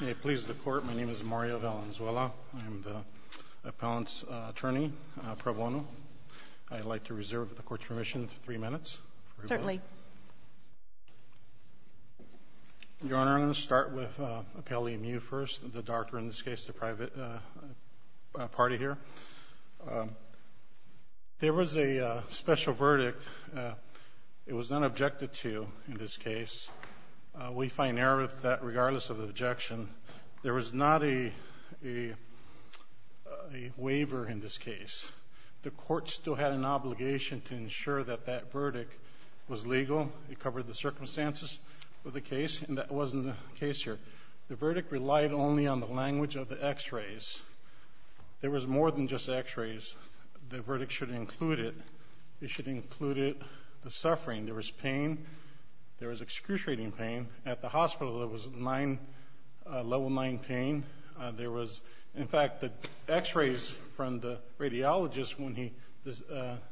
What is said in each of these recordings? May it please the Court, my name is Mario Valenzuela. I am the appellant's attorney, pro bono. I'd like to reserve the Court's permission for three minutes. Certainly. Your Honor, I'm going to start with Appellee Mew first, the doctor, in this case the private party here. There was a special verdict. It was not objected to in this case. We find there that regardless of the objection, there was not a waiver in this case. The Court still had an obligation to ensure that that verdict was legal. It covered the circumstances of the case, and that wasn't the case here. The verdict relied only on the language of the x-rays. There was more than just x-rays. The verdict should include it. It should include it, the suffering. There was pain. There was excruciating pain. At the hospital, there was level 9 pain. There was, in fact, the x-rays from the radiologist when he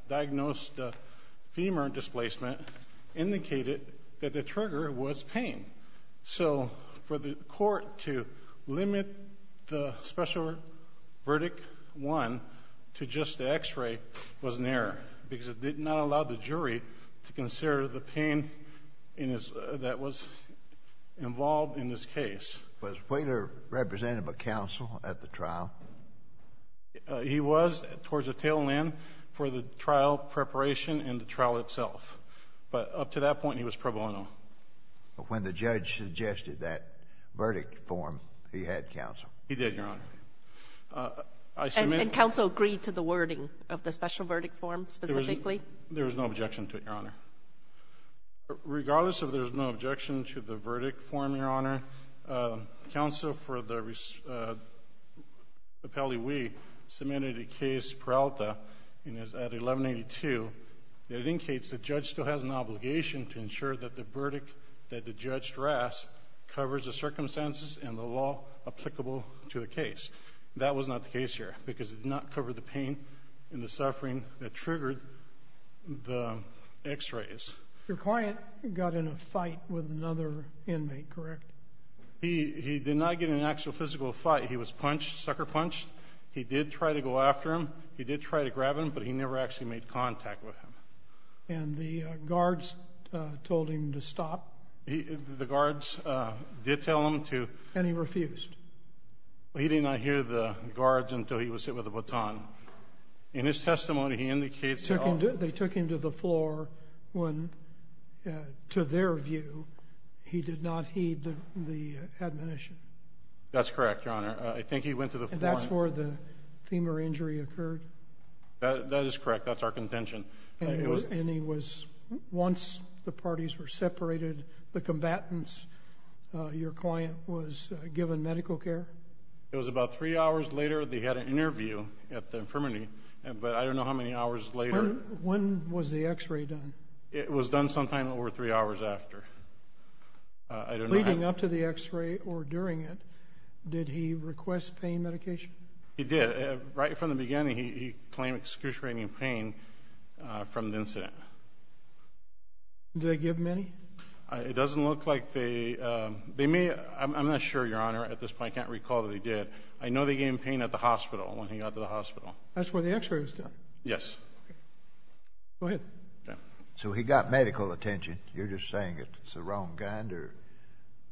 diagnosed the femur displacement indicated that the trigger was pain. So for the Court to limit the special verdict, one, to just the x-ray was an error because it did not allow the jury to consider the pain in his that was involved in this case. Was Wheeler representative of counsel at the trial? He was towards the tail end for the trial preparation and the trial itself. But up to that point, he was pro bono. But when the judge suggested that he did, Your Honor, I submitted the verdict. And counsel agreed to the wording of the special verdict form specifically? There was no objection to it, Your Honor. Regardless of there's no objection to the verdict form, Your Honor, counsel for the appellee Wheeler submitted a case, Peralta, and it's at 1182, that indicates the judge still has an obligation to ensure that the verdict that the judge drafts covers the circumstances and the law applicable to the case. That was not the case here because it did not cover the pain and the suffering that triggered the x-rays. Your client got in a fight with another inmate, correct? He did not get in an actual physical fight. He was punched, sucker punched. He did try to go after him. He did try to grab him, but he never actually made contact with him. And the guards told him to stop? The guards did tell him to. And he refused? He did not hear the guards until he was hit with a baton. In his testimony, he indicates that they took him to the floor when, to their view, he did not heed the admonition. That's correct, Your Honor. I think he went to the floor. And that's where the femur injury occurred? That is correct. That's our contention. And he was, once the parties were separated, the combatants, your client, was given medical care? It was about three hours later. They had an interview at the infirmary, but I don't know how many hours later... When was the x-ray done? It was done sometime over three hours after. I don't know how... Leading up to the x-ray or during it, did he request pain medication? He did. Right from the beginning, he claimed excruciating pain from the incident. Did they give many? It doesn't look like they... They may... I'm not sure, Your Honor, at this point. I can't recall that they did. I know they gave him pain at the hospital, when he got to the hospital. That's where the x-ray was done? Yes. Okay. Go ahead. So he got medical attention. You're just saying it's the wrong kind, or...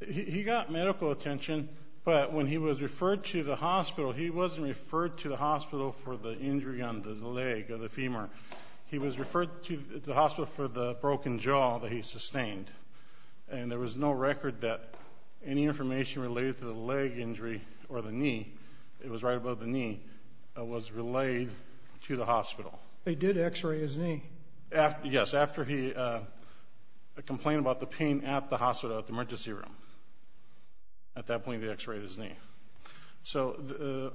He got medical attention, but when he was referred to the hospital, he wasn't referred to the hospital for the injury on the leg or the femur. He was referred to the hospital for the broken jaw that he sustained. And there was no record that any information related to the leg injury or the knee, it was right above the knee, was relayed to the hospital. They did x-ray his knee? Yes, after he complained about the pain at the hospital, at the emergency room. At that point, they x-rayed his knee. So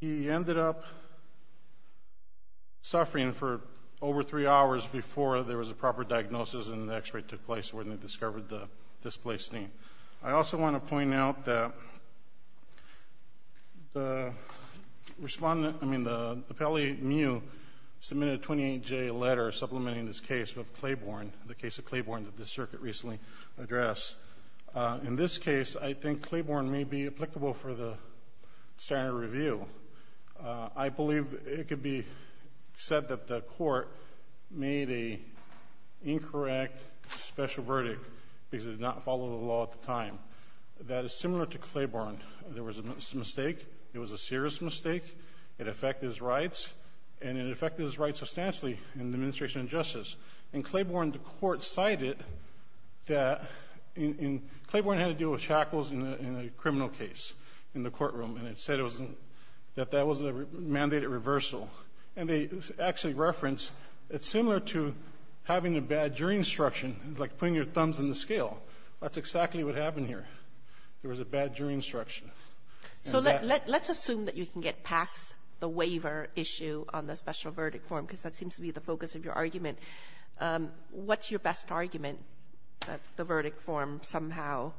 he ended up suffering for over three hours before there was a proper diagnosis and the x-ray took place when they discovered the displaced knee. I also want to point out that the respondent, I mean, the appellee, Miu, was not in the case. He submitted a 28-J letter supplementing this case with Claiborne, the case of Claiborne that the circuit recently addressed. In this case, I think Claiborne may be applicable for the standard review. I believe it could be said that the court made an incorrect special verdict because it did not follow the law at the time. That is similar to Claiborne. There was a mistake. It was a serious mistake. It affected his rights, and it affected his rights substantially in the administration of justice. In Claiborne, the court cited that in — Claiborne had to deal with shackles in a criminal case in the courtroom, and it said it wasn't — that that wasn't a mandated reversal. And they actually referenced it's similar to having a bad jury instruction, like putting your thumbs in the scale. That's exactly what happened here. There was a bad jury instruction. And that — So let's assume that you can get past the waiver issue on the special verdict form, because that seems to be the focus of your argument. What's your best argument, that the verdict form somehow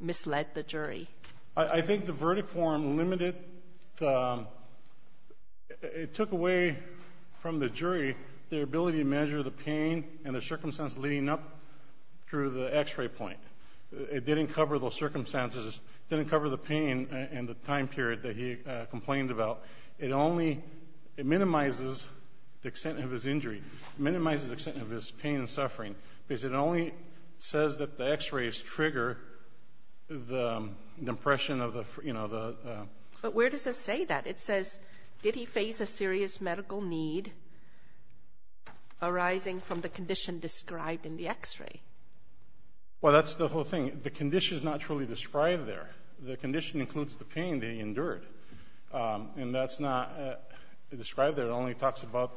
misled the jury? I think the verdict form limited the — it took away from the jury their ability to measure the pain and the circumstance leading up through the X-ray point. It didn't cover those in the time period that he complained about. It only — it minimizes the extent of his injury, minimizes the extent of his pain and suffering, because it only says that the X-rays trigger the impression of the, you know, the — But where does it say that? It says, did he face a serious medical need arising from the condition described in the X-ray? Well, that's the whole thing. The condition is not truly described there. The condition includes the pain that he endured. And that's not described there. It only talks about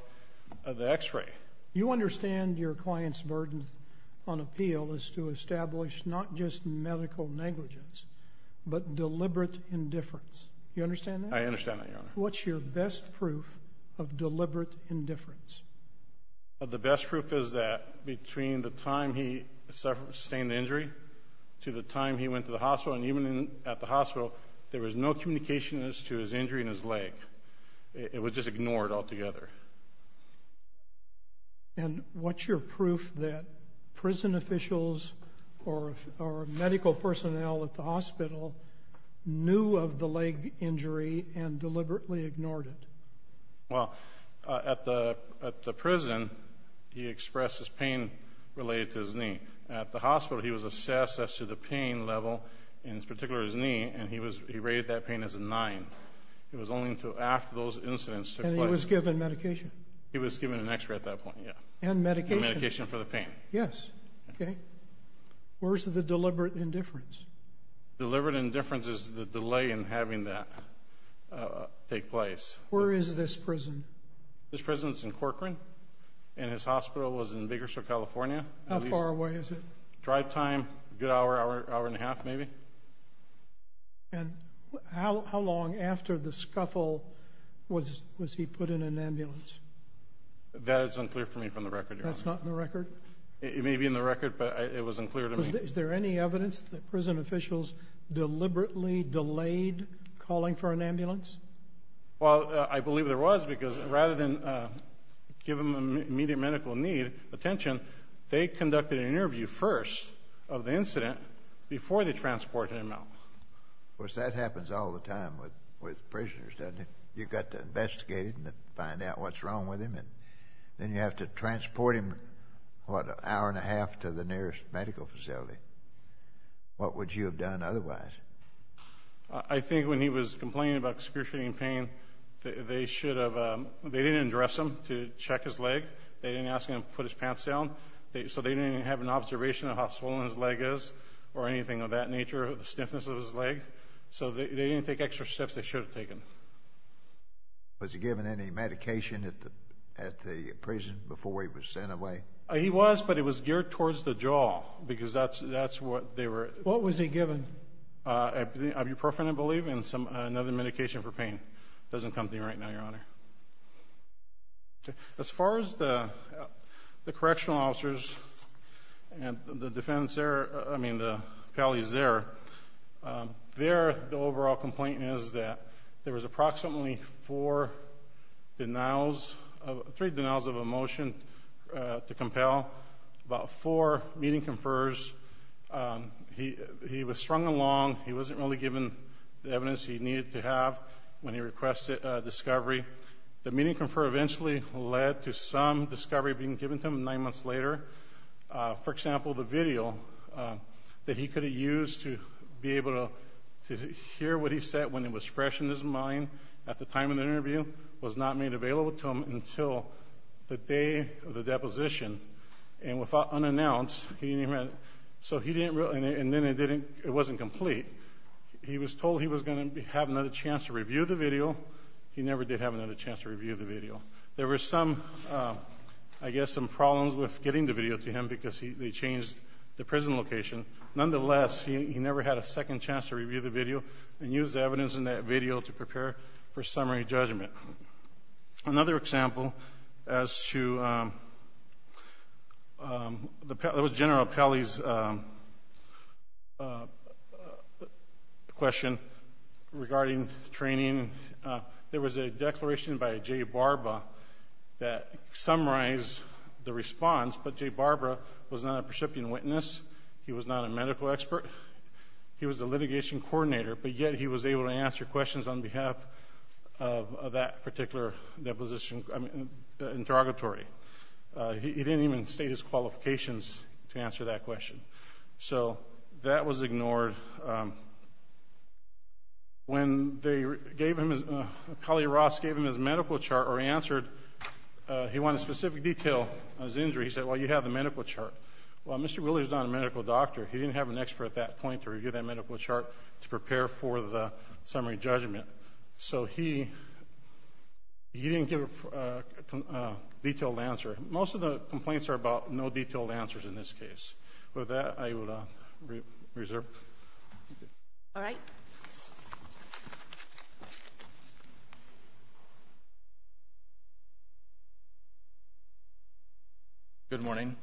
the X-ray. You understand your client's burden on appeal is to establish not just medical negligence, but deliberate indifference. You understand that? I understand that, Your Honor. What's your best proof of deliberate indifference? The best proof is that between the time he sustained the injury to the time he went to the hospital, and even at the hospital, there was no communication as to his injury and his leg. It was just ignored altogether. And what's your proof that prison officials or medical personnel at the hospital knew of the leg injury and deliberately ignored it? Well, at the prison, he expressed his pain related to his knee. At the hospital, he was in particular his knee, and he rated that pain as a nine. It was only after those incidents took place. And he was given medication? He was given an X-ray at that point, yeah. And medication? And medication for the pain. Yes. Okay. Where's the deliberate indifference? Deliberate indifference is the delay in having that take place. Where is this prison? This prison's in Corcoran, and his hospital was in Biggersore, California. How far away is it? Drive time, a good hour, hour and a half maybe. And how long after the scuffle was he put in an ambulance? That is unclear for me from the record, Your Honor. That's not in the record? It may be in the record, but it wasn't clear to me. Is there any evidence that prison officials deliberately delayed calling for an ambulance? Well, I believe there was, because rather than give him immediate medical need, attention, they conducted an interview first of the incident before they transported him out. Of course, that happens all the time with prisoners, doesn't it? You've got to investigate it and find out what's wrong with him, and then you have to transport him, what, an hour and a half to the nearest medical facility. What would you have done otherwise? I think when he was complaining about excruciating pain, they didn't address him to check his leg. They didn't ask him to put his pants down, so they didn't have an observation of how swollen his leg is or anything of that nature, the stiffness of his leg. So they didn't take extra steps they should have taken. Was he given any medication at the prison before he was sent away? He was, but it was geared towards the jaw, because that's what they were— What was he given? Ibuprofen, I believe, and another medication for pain. Doesn't come to me right now, Your Honor. As far as the correctional officers and the defendants there—I mean, the appellees there, there, the overall complaint is that there was approximately four denials—three denials of a motion to compel, about four meeting confers. He was strung along. He wasn't really given the evidence he needed to have when he requested discovery. The meeting confer eventually led to some discovery being given to him nine months later. For example, the video that he could have used to be able to hear what he said when it was fresh in his mind at the time of the interview was not made available to him until the day of the deposition. And without—unannounced, he didn't even—so he didn't—and then it didn't—it wasn't complete. He was told he was going to have another chance to review the video. He never did have another chance to review the video. There were some, I guess, some problems with getting the video to him because he changed the prison location. Nonetheless, he never had a second chance to review the video and use the evidence in that video to prepare for summary judgment. Another example as to—that was General Pelley's question regarding training. There was a declaration by J. Barba that summarized the response, but J. Barba was not a percipient witness. He was not a medical expert. He was a litigation coordinator, but yet he was able to answer questions on behalf of that particular deposition—I mean, interrogatory. He didn't even state his qualifications to answer that question. So that was ignored. When they gave him his—Collier-Ross gave him his medical chart or answered—he wanted specific detail on his injury. He said, well, you have the medical chart. Well, Mr. Wheeler is not a medical doctor. He didn't have an expert at that point to review that medical chart to prepare for the summary judgment. So he didn't give a detailed answer. Most of the complaints are about no detailed answers in this case. With that, I will reserve. Thank you. All right. Thank you. Good morning.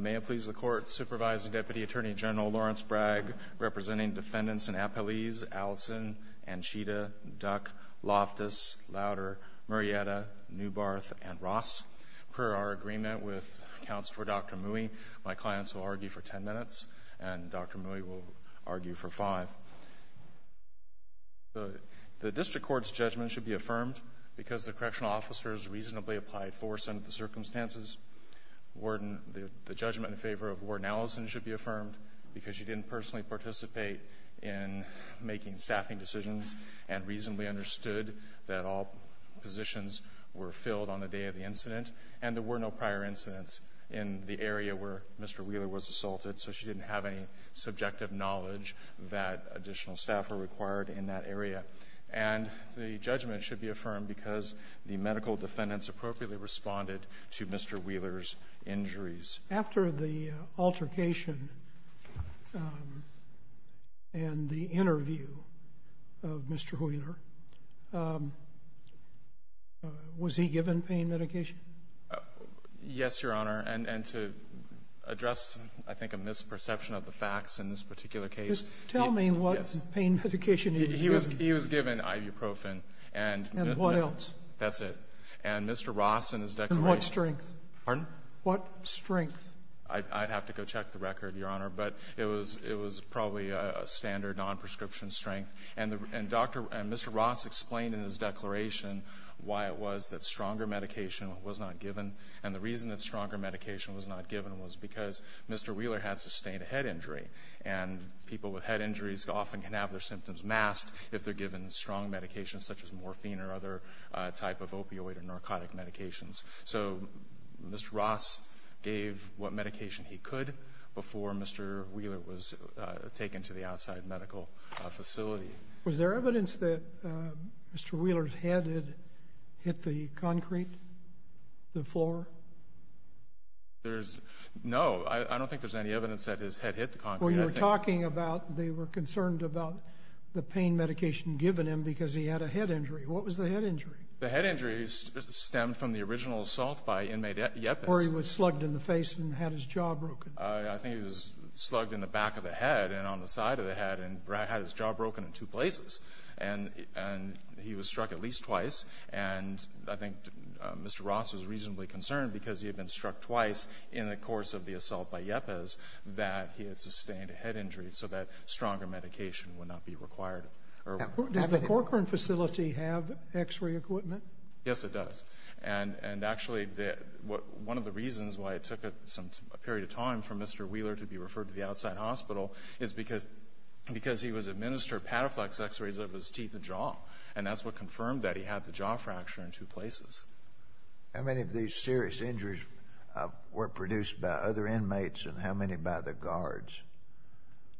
May it please the Court, Supervising Deputy Attorney General Lawrence Bragg representing defendants in Appellees Allison, Anchita, Duck, Loftus, Louder, Murrieta, Newbarth, and Ross. Per our agreement with accounts for Dr. Mui, my clients will argue for 10 minutes, and Dr. Mui will argue for 5. The district court's judgment should be affirmed because the correctional officer's reasonably applied force under the circumstances. The judgment in favor of Warden Allison should be affirmed because she didn't personally participate in making staffing decisions and reasonably understood that all positions were filled on the day of the incident, and there were no prior incidents in the area where Mr. Wheeler was assaulted, so she didn't have any subjective knowledge that additional staff were required in that area. And the judgment should be affirmed because the medical defendants appropriately responded to Mr. Wheeler's injuries. After the altercation and the interview of Mr. Wheeler, was he given pain medication? Yes, Your Honor. And to address, I think, a misperception of the facts in this particular case, he was given pain medication. He was given ibuprofen. And what else? That's it. And Mr. Ross, in his declaration — And what strength? Pardon? What strength? I'd have to go check the record, Your Honor. But it was probably a standard nonprescription strength. And Dr. — and Mr. Ross explained in his declaration why it was that stronger medication was not given. And the reason that stronger medication was not given was because Mr. Wheeler had sustained a head injury. And people with head injuries often can have their symptoms masked if they're given strong medications such as morphine or other type of opioid or narcotic medications. So Mr. Ross gave what medication he could before Mr. Wheeler was taken to the outside medical facility. Was there evidence that Mr. Wheeler's head had hit the concrete, the floor? There's — no. I don't think there's any evidence that his head hit the concrete. Well, you were talking about they were concerned about the pain medication given him because he had a head injury. What was the head injury? The head injury stemmed from the original assault by inmate Yepis. Or he was slugged in the face and had his jaw broken. I think he was slugged in the back of the head and on the side of the head and had his jaw broken in two places. And he was struck at least twice. And I think Mr. Ross was reasonably concerned because he had been struck twice in the course of the assault by Yepis that he had sustained a head injury so that stronger medication would not be required. Does the Corcoran facility have X-ray equipment? Yes, it does. And actually, one of the reasons why it took a period of time for Mr. Wheeler to be referred to the outside hospital is because he was administered Pataflex X-rays of his teeth and jaw. And that's what confirmed that he had the jaw fracture in two places. How many of these serious injuries were produced by other inmates and how many by the guards?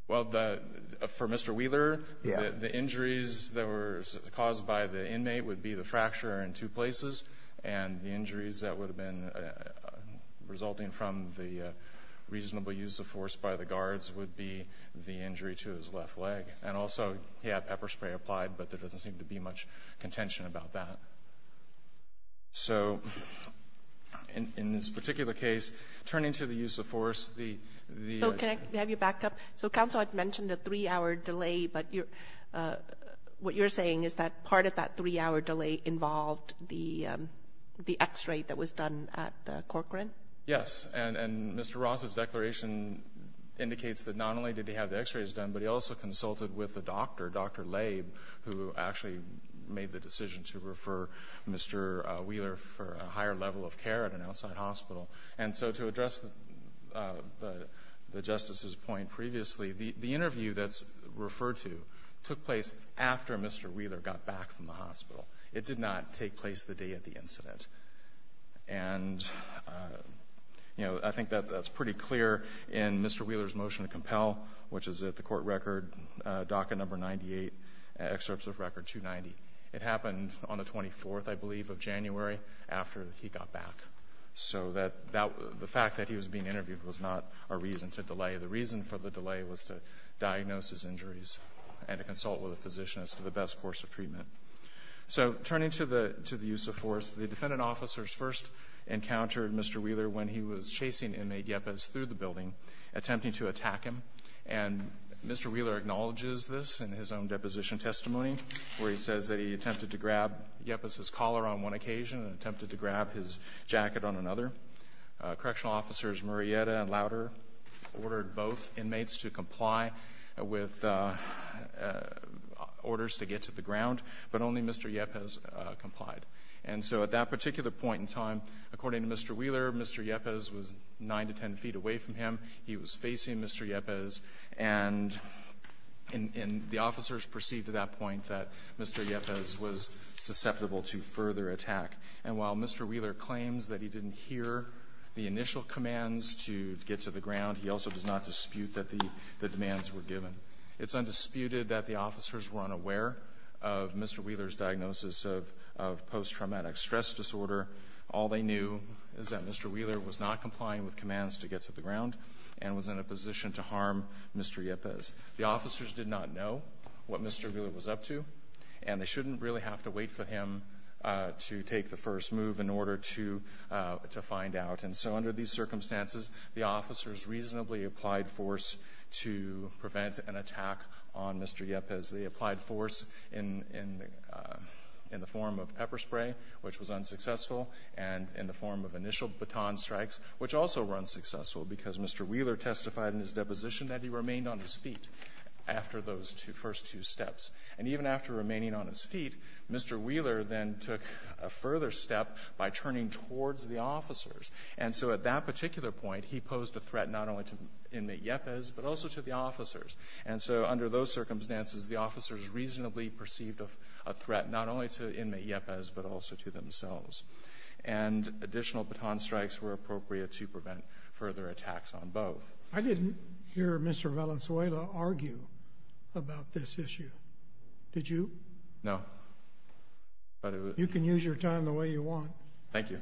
Well, for Mr. Wheeler, the injuries that were caused by the inmate would be the fracture in two places. And the injuries that would have been resulting from the reasonable use of force by the guards would be the injury to his left leg. And also, he had pepper spray applied, but there doesn't seem to be much contention about that. So in this particular case, turning to the use of force, the ---- So can I have you back up? So counsel, I've mentioned a three-hour delay, but what you're saying is that part of that three-hour delay involved the X-ray that was done at Corcoran? Yes. And Mr. Ross's declaration indicates that not only did he have the X-rays done, but he also consulted with the doctor, Dr. Laib, who actually made the decision to refer Mr. Wheeler for a higher level of care at an outside hospital. And so to address the Justice's point previously, the interview that's referred to took place after Mr. Wheeler got back from the hospital. It did not take place the day of the incident. And, you know, I think that that's pretty clear in Mr. Wheeler's motion to compel, which is at the court record, docket number 98, excerpts of record 290. It happened on the 24th, I believe, of January after he got back. So that the fact that he was being interviewed was not a reason to delay. The reason for the delay was to diagnose his injuries and to consult with a physician as to the best course of treatment. So turning to the use of force, the defendant officers first encountered Mr. Wheeler when he was chasing inmate Yepes through the building, attempting to attack him. And Mr. Wheeler acknowledges this in his own deposition testimony, where he says that he attempted to grab Yepes's collar on one hand and ordered both inmates to comply with orders to get to the ground, but only Mr. Yepes complied. And so at that particular point in time, according to Mr. Wheeler, Mr. Yepes was 9 to 10 feet away from him. He was facing Mr. Yepes. And the officers perceived at that point that Mr. Yepes was susceptible to further attack. And while Mr. Wheeler claims that he didn't hear the initial commands to get to the ground, he also does not dispute that the demands were given. It's undisputed that the officers were unaware of Mr. Wheeler's diagnosis of post-traumatic stress disorder. All they knew is that Mr. Wheeler was not complying with commands to get to the ground and was in a position to harm Mr. Yepes. The officers did not know what Mr. Wheeler was up to, and they shouldn't really have to wait for him to take the first move in reasonably applied force to prevent an attack on Mr. Yepes. They applied force in the form of pepper spray, which was unsuccessful, and in the form of initial baton strikes, which also were unsuccessful, because Mr. Wheeler testified in his deposition that he remained on his feet after those first two steps. And even after remaining on his feet, Mr. Wheeler then took a further step by turning towards the officers. And so at that particular point, he posed a threat not only to inmate Yepes, but also to the officers. And so under those circumstances, the officers reasonably perceived a threat not only to inmate Yepes, but also to themselves. And additional baton strikes were appropriate to prevent further attacks on both. I didn't hear Mr. Valenzuela argue about this issue. Did you? No. You can use your time the way you want. Thank you.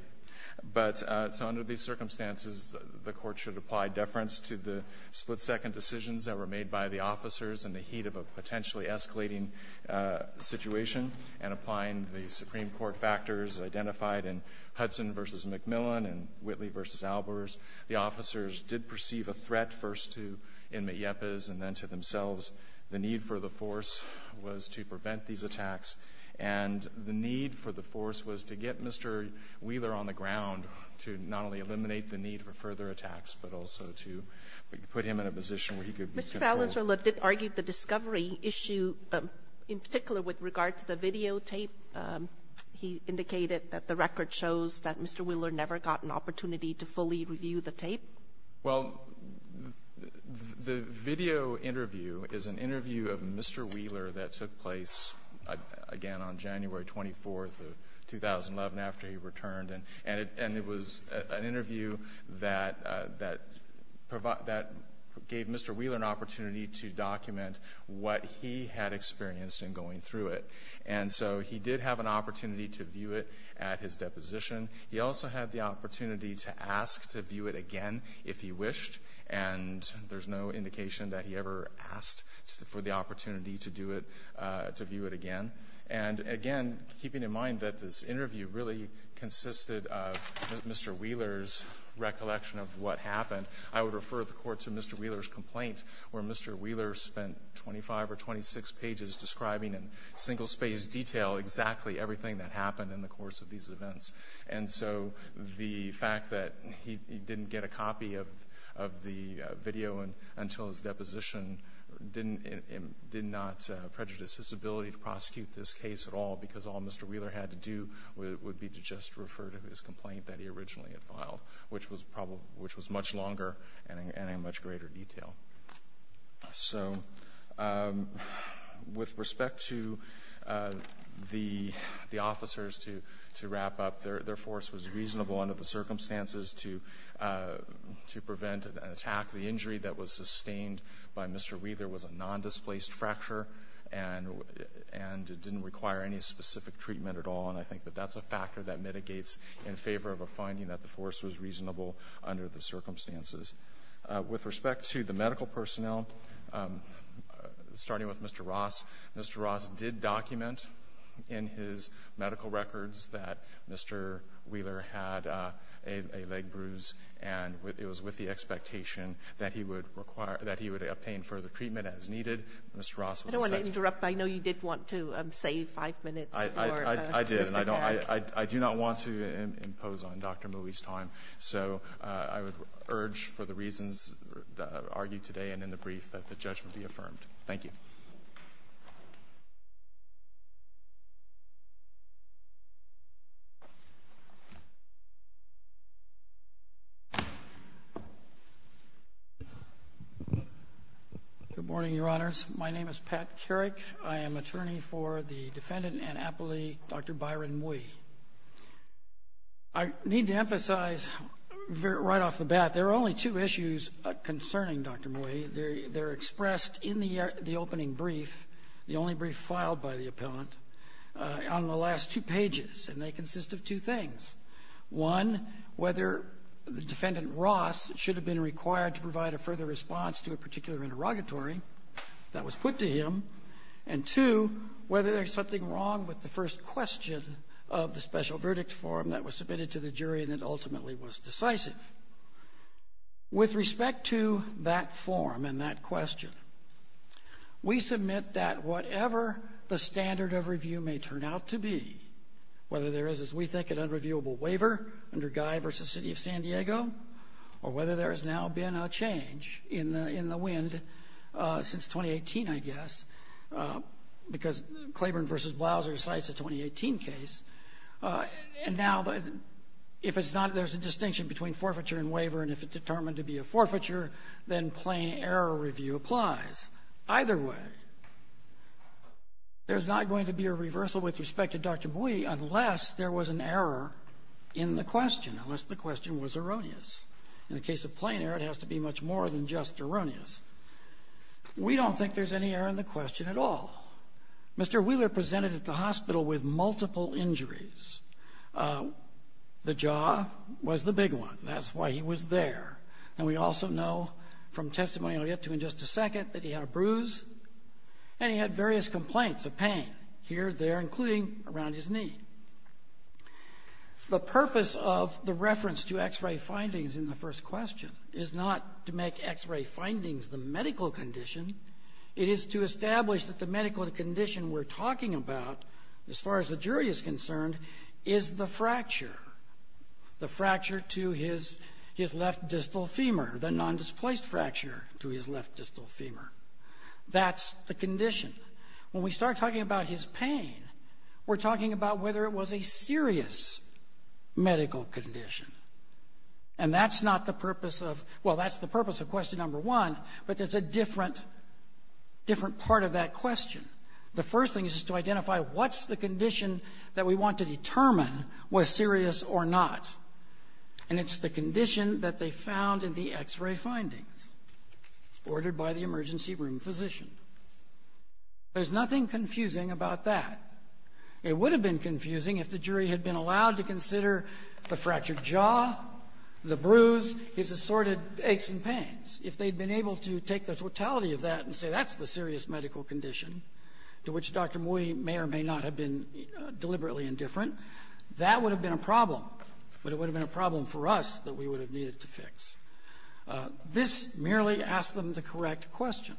But so under these circumstances, the Court should apply deference to the split-second decisions that were made by the officers in the heat of a potentially escalating situation, and applying the Supreme Court factors identified in Hudson v. McMillan and Whitley v. Albers. The officers did perceive a threat first to inmate Yepes and then to themselves. The need for the force was to prevent these attacks. And the need for the force was to get Mr. Wheeler on the ground to not only eliminate the need for further attacks, but also to put him in a position where he could be controlled. Mr. Valenzuela did argue the discovery issue in particular with regard to the videotape. He indicated that the record shows that Mr. Wheeler never got an opportunity to fully review the tape. Well, the video interview is an interview of Mr. Wheeler that took place, again, on January 24th of 2011 after he returned. And it was an interview that gave Mr. Wheeler an opportunity to document what he had experienced in going through it. And so he did have an opportunity to view it at his home if he wished, and there's no indication that he ever asked for the opportunity to do it, to view it again. And again, keeping in mind that this interview really consisted of Mr. Wheeler's recollection of what happened, I would refer the Court to Mr. Wheeler's complaint, where Mr. Wheeler spent 25 or 26 pages describing in single-space detail exactly everything that happened in the course of these events. And so the fact that he didn't get a copy of the video until his deposition did not prejudice his ability to prosecute this case at all, because all Mr. Wheeler had to do would be to just refer to his complaint that he originally had filed, which was much longer and in much greater detail. So with respect to the officers, to wrap up, their force was reasonable under the circumstances to prevent an attack. The injury that was sustained by Mr. Wheeler was a nondisplaced fracture, and it didn't require any specific treatment at all. And I think that that's a factor that mitigates in favor of a finding that the force was reasonable under the circumstances. With respect to the medical personnel, starting with Mr. Ross, Mr. Ross did document in his medical records that Mr. Wheeler had a leg bruise, and it was with the expectation that he would require or that he would obtain further treatment as needed. Mr. Ross was the second. Sotomayor, I don't want to interrupt. I know you did want to save five minutes for Mr. Pack. I do not want to impose on Dr. Mouey's time. So I would urge for the reasons argued today and in the brief that the judgment be affirmed. Thank you. Good morning, Your Honors. My name is Pat Carrick. I am attorney for the defendant and appellee, Dr. Byron Mouey. I need to emphasize right off the bat there are only two issues concerning Dr. Mouey. They're expressed in the opening brief, the only brief filed by the appellant, on the last two pages, and they consist of two things. One, whether the defendant Ross should have been required to provide a further response to a particular interrogatory that was put to him, and two, whether there's something wrong with the first question of the special verdict form that was submitted to the jury and ultimately was decisive. With respect to that form and that question, we submit that whatever the standard of review may turn out to be, whether there is, as we think, an unreviewable waiver under Guy v. City of San Diego, or whether there has now been a change in the wind since 2018, I guess, because Claiborne v. Blouser cites a 2018 case. And now, if it's not, there's a distinction between forfeiture and waiver, and if it's determined to be a forfeiture, then plain error review applies. Either way, there's not going to be a reversal with respect to Dr. Mouey unless there was an error in the question, unless the question was erroneous. In the case of plain error, it has to be much more than just erroneous. We don't think there's any error in the question at all. Mr. Wheeler presented at the hospital with multiple injuries. The jaw was the big one, and that's why he was there. And we also know from testimony I'll get to in just a second that he had a bruise, and he had various complaints of pain here, there, including around his knee. The purpose of the reference to X-ray findings in the first question is not to make X-ray findings the medical condition. It is to establish that the medical condition we're talking about, as far as the jury is concerned, is the fracture, the fracture to his left distal femur, the nondisplaced fracture to his left distal femur. That's the condition. When we start talking about his pain, we're talking about whether it was a serious medical condition. And that's not the purpose of — well, that's the purpose of question number one, but it's a different part of that question. The first thing is to identify what's the condition that we want to determine was serious or not. And it's the condition that they found in the X-ray findings ordered by the emergency room physician. There's nothing confusing about that. It would have been confusing if the jury had been allowed to consider the fractured jaw, the bruise, his assorted aches and pains. If they'd been able to take the totality of that and say that's the serious medical condition, to which Dr. Mui may or may not have been deliberately indifferent, that would have been a problem, but it would have been a problem for us that we would have needed to fix. This merely asked them the correct question.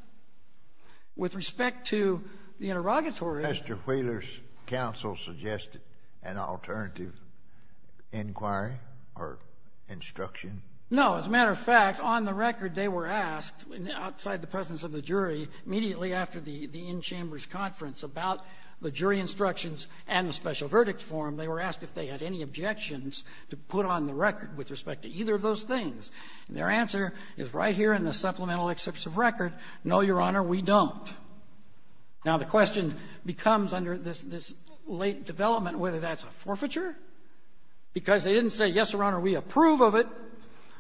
With respect to the interrogatory — Kennedy. Mr. Wheeler's counsel suggested an alternative inquiry or instruction? No. As a matter of fact, on the record, they were asked outside the presence of the jury immediately after the in-chambers conference about the jury instructions and the special verdict form, they were asked if they had any objections to put on the record with respect to either of those things. And their answer is right here in the supplemental excerpts of record, no, Your Honor, we don't. Now, the question becomes under this — this late development whether that's a forfeiture, because they didn't say, yes, Your Honor, we approve of it,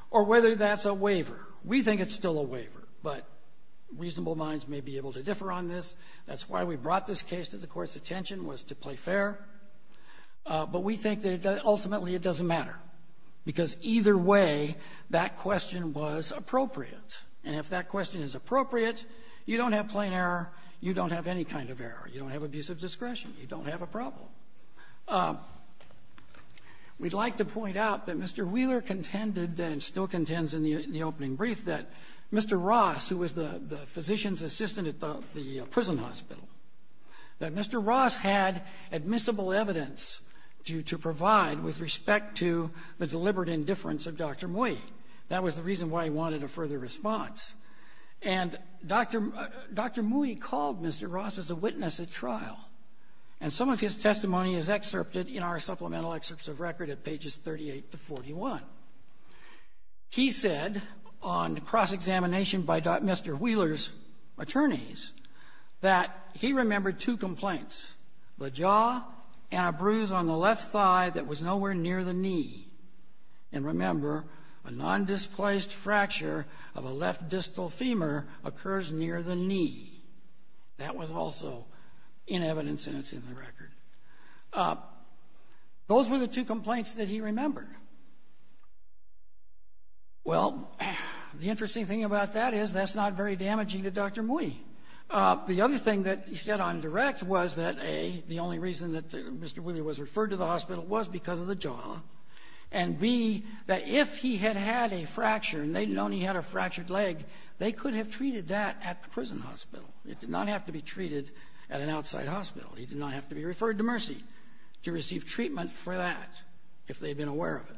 or whether that's a waiver. We think it's still a waiver, but reasonable minds may be able to differ on this. That's why we brought this case to the Court's attention, was to play fair. But we think that ultimately it doesn't matter, because either way, that question was appropriate. And if that question is appropriate, you don't have plain error, you don't have any kind of error. You don't have abusive discretion. You don't have a problem. We'd like to point out that Mr. Wheeler contended, and still contends in the opening brief, that Mr. Ross, who was the physician's assistant at the prison where he was in the prison hospital, that Mr. Ross had admissible evidence to provide with respect to the deliberate indifference of Dr. Mui. That was the reason why he wanted a further response. And Dr. — Dr. Mui called Mr. Ross as a witness at trial. And some of his testimony is excerpted in our supplemental excerpts of record at pages 38 to 41. He said on cross-examination by Dr. — Mr. Wheeler's attorneys that he remembered two complaints, the jaw and a bruise on the left thigh that was nowhere near the knee. And remember, a nondisplaced fracture of a left distal femur occurs near the knee. That was also in evidence, and it's in the record. Those were the two complaints that he remembered. Well, the interesting thing about that is that's not very damaging to Dr. Mui. The other thing that he said on direct was that, A, the only reason that Mr. Wheeler was referred to the hospital was because of the jaw, and, B, that if he had had a fracture and they'd known he had a fractured leg, they could have treated that at the prison hospital. It did not have to be treated at an outside hospital. He did not have to be referred to receive treatment for that if they'd been aware of it.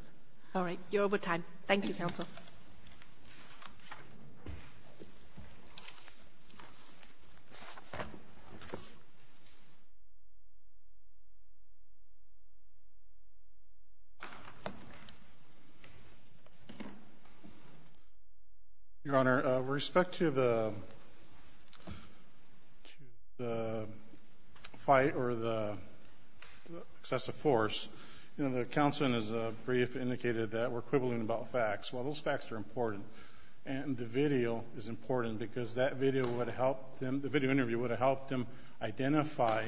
All right. You're over time. Thank you, Counsel. Your Honor, with respect to the fight or the excessive force, you know, the counselman has briefly indicated that we're quibbling about facts. Well, those facts are important. And the video is important because that video would have helped him, the video interview would have helped him identify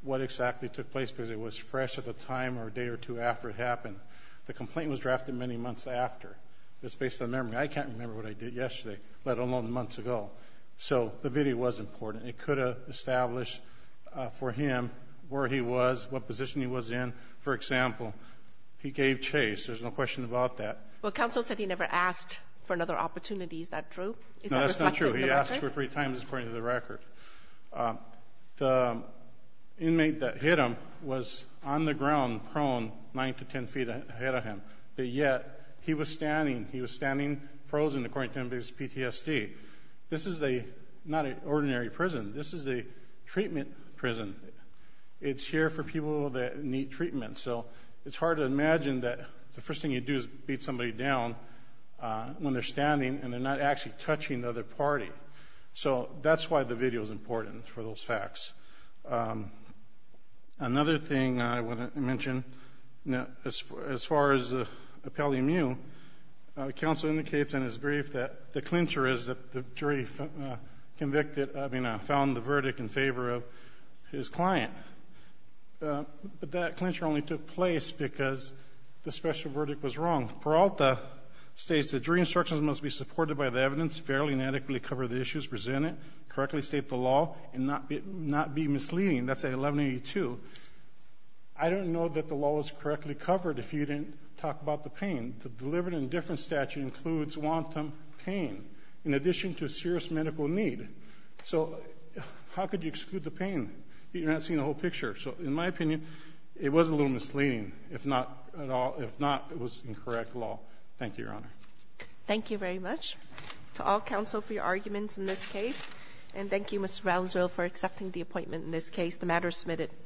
what exactly took place because it was fresh at the time or day or two after it happened. The complaint was drafted many months after. It's based on memory. I can't remember what I did yesterday, let alone months ago. So the video was important. It could have established for him where he was, what position he was in. For example, he gave chase. There's no question about that. Well, Counsel said he never asked for another opportunity. Is that true? No, that's not true. He asked for it three times, according to the record. The inmate that hit him was on the ground, prone, 9 to 10 feet ahead of him. But yet, he was standing frozen, according to him, because of PTSD. This is not an ordinary prison. This is a treatment prison. It's here for people that need treatment. So it's hard to imagine that the first thing you do is beat somebody down when they're standing and they're not actually touching the other party. So that's why the video is important for those facts. Another thing I want to mention, as far as Appellee Miu, counsel indicates in his brief that the clincher is the jury convicted, I mean, found the verdict in favor of his client. But that clincher only took place because the special verdict was wrong. Peralta states that jury instructions must be supported by the evidence, fairly and adequately cover the issues presented, correctly state the law, and not be misleading. That's at 1182. I don't know that the law was correctly covered if you didn't talk about the pain. The deliberate indifference statute includes wanton pain in addition to serious medical need. So how could you exclude the pain? You're not seeing the whole picture. So in my opinion, it was a little misleading, if not at all — if not, it was incorrect law. Thank you, Your Honor. Thank you very much to all counsel for your arguments in this case. And thank you, Mr. Valenzuela, for accepting the appointment in this case. The matter is submitted.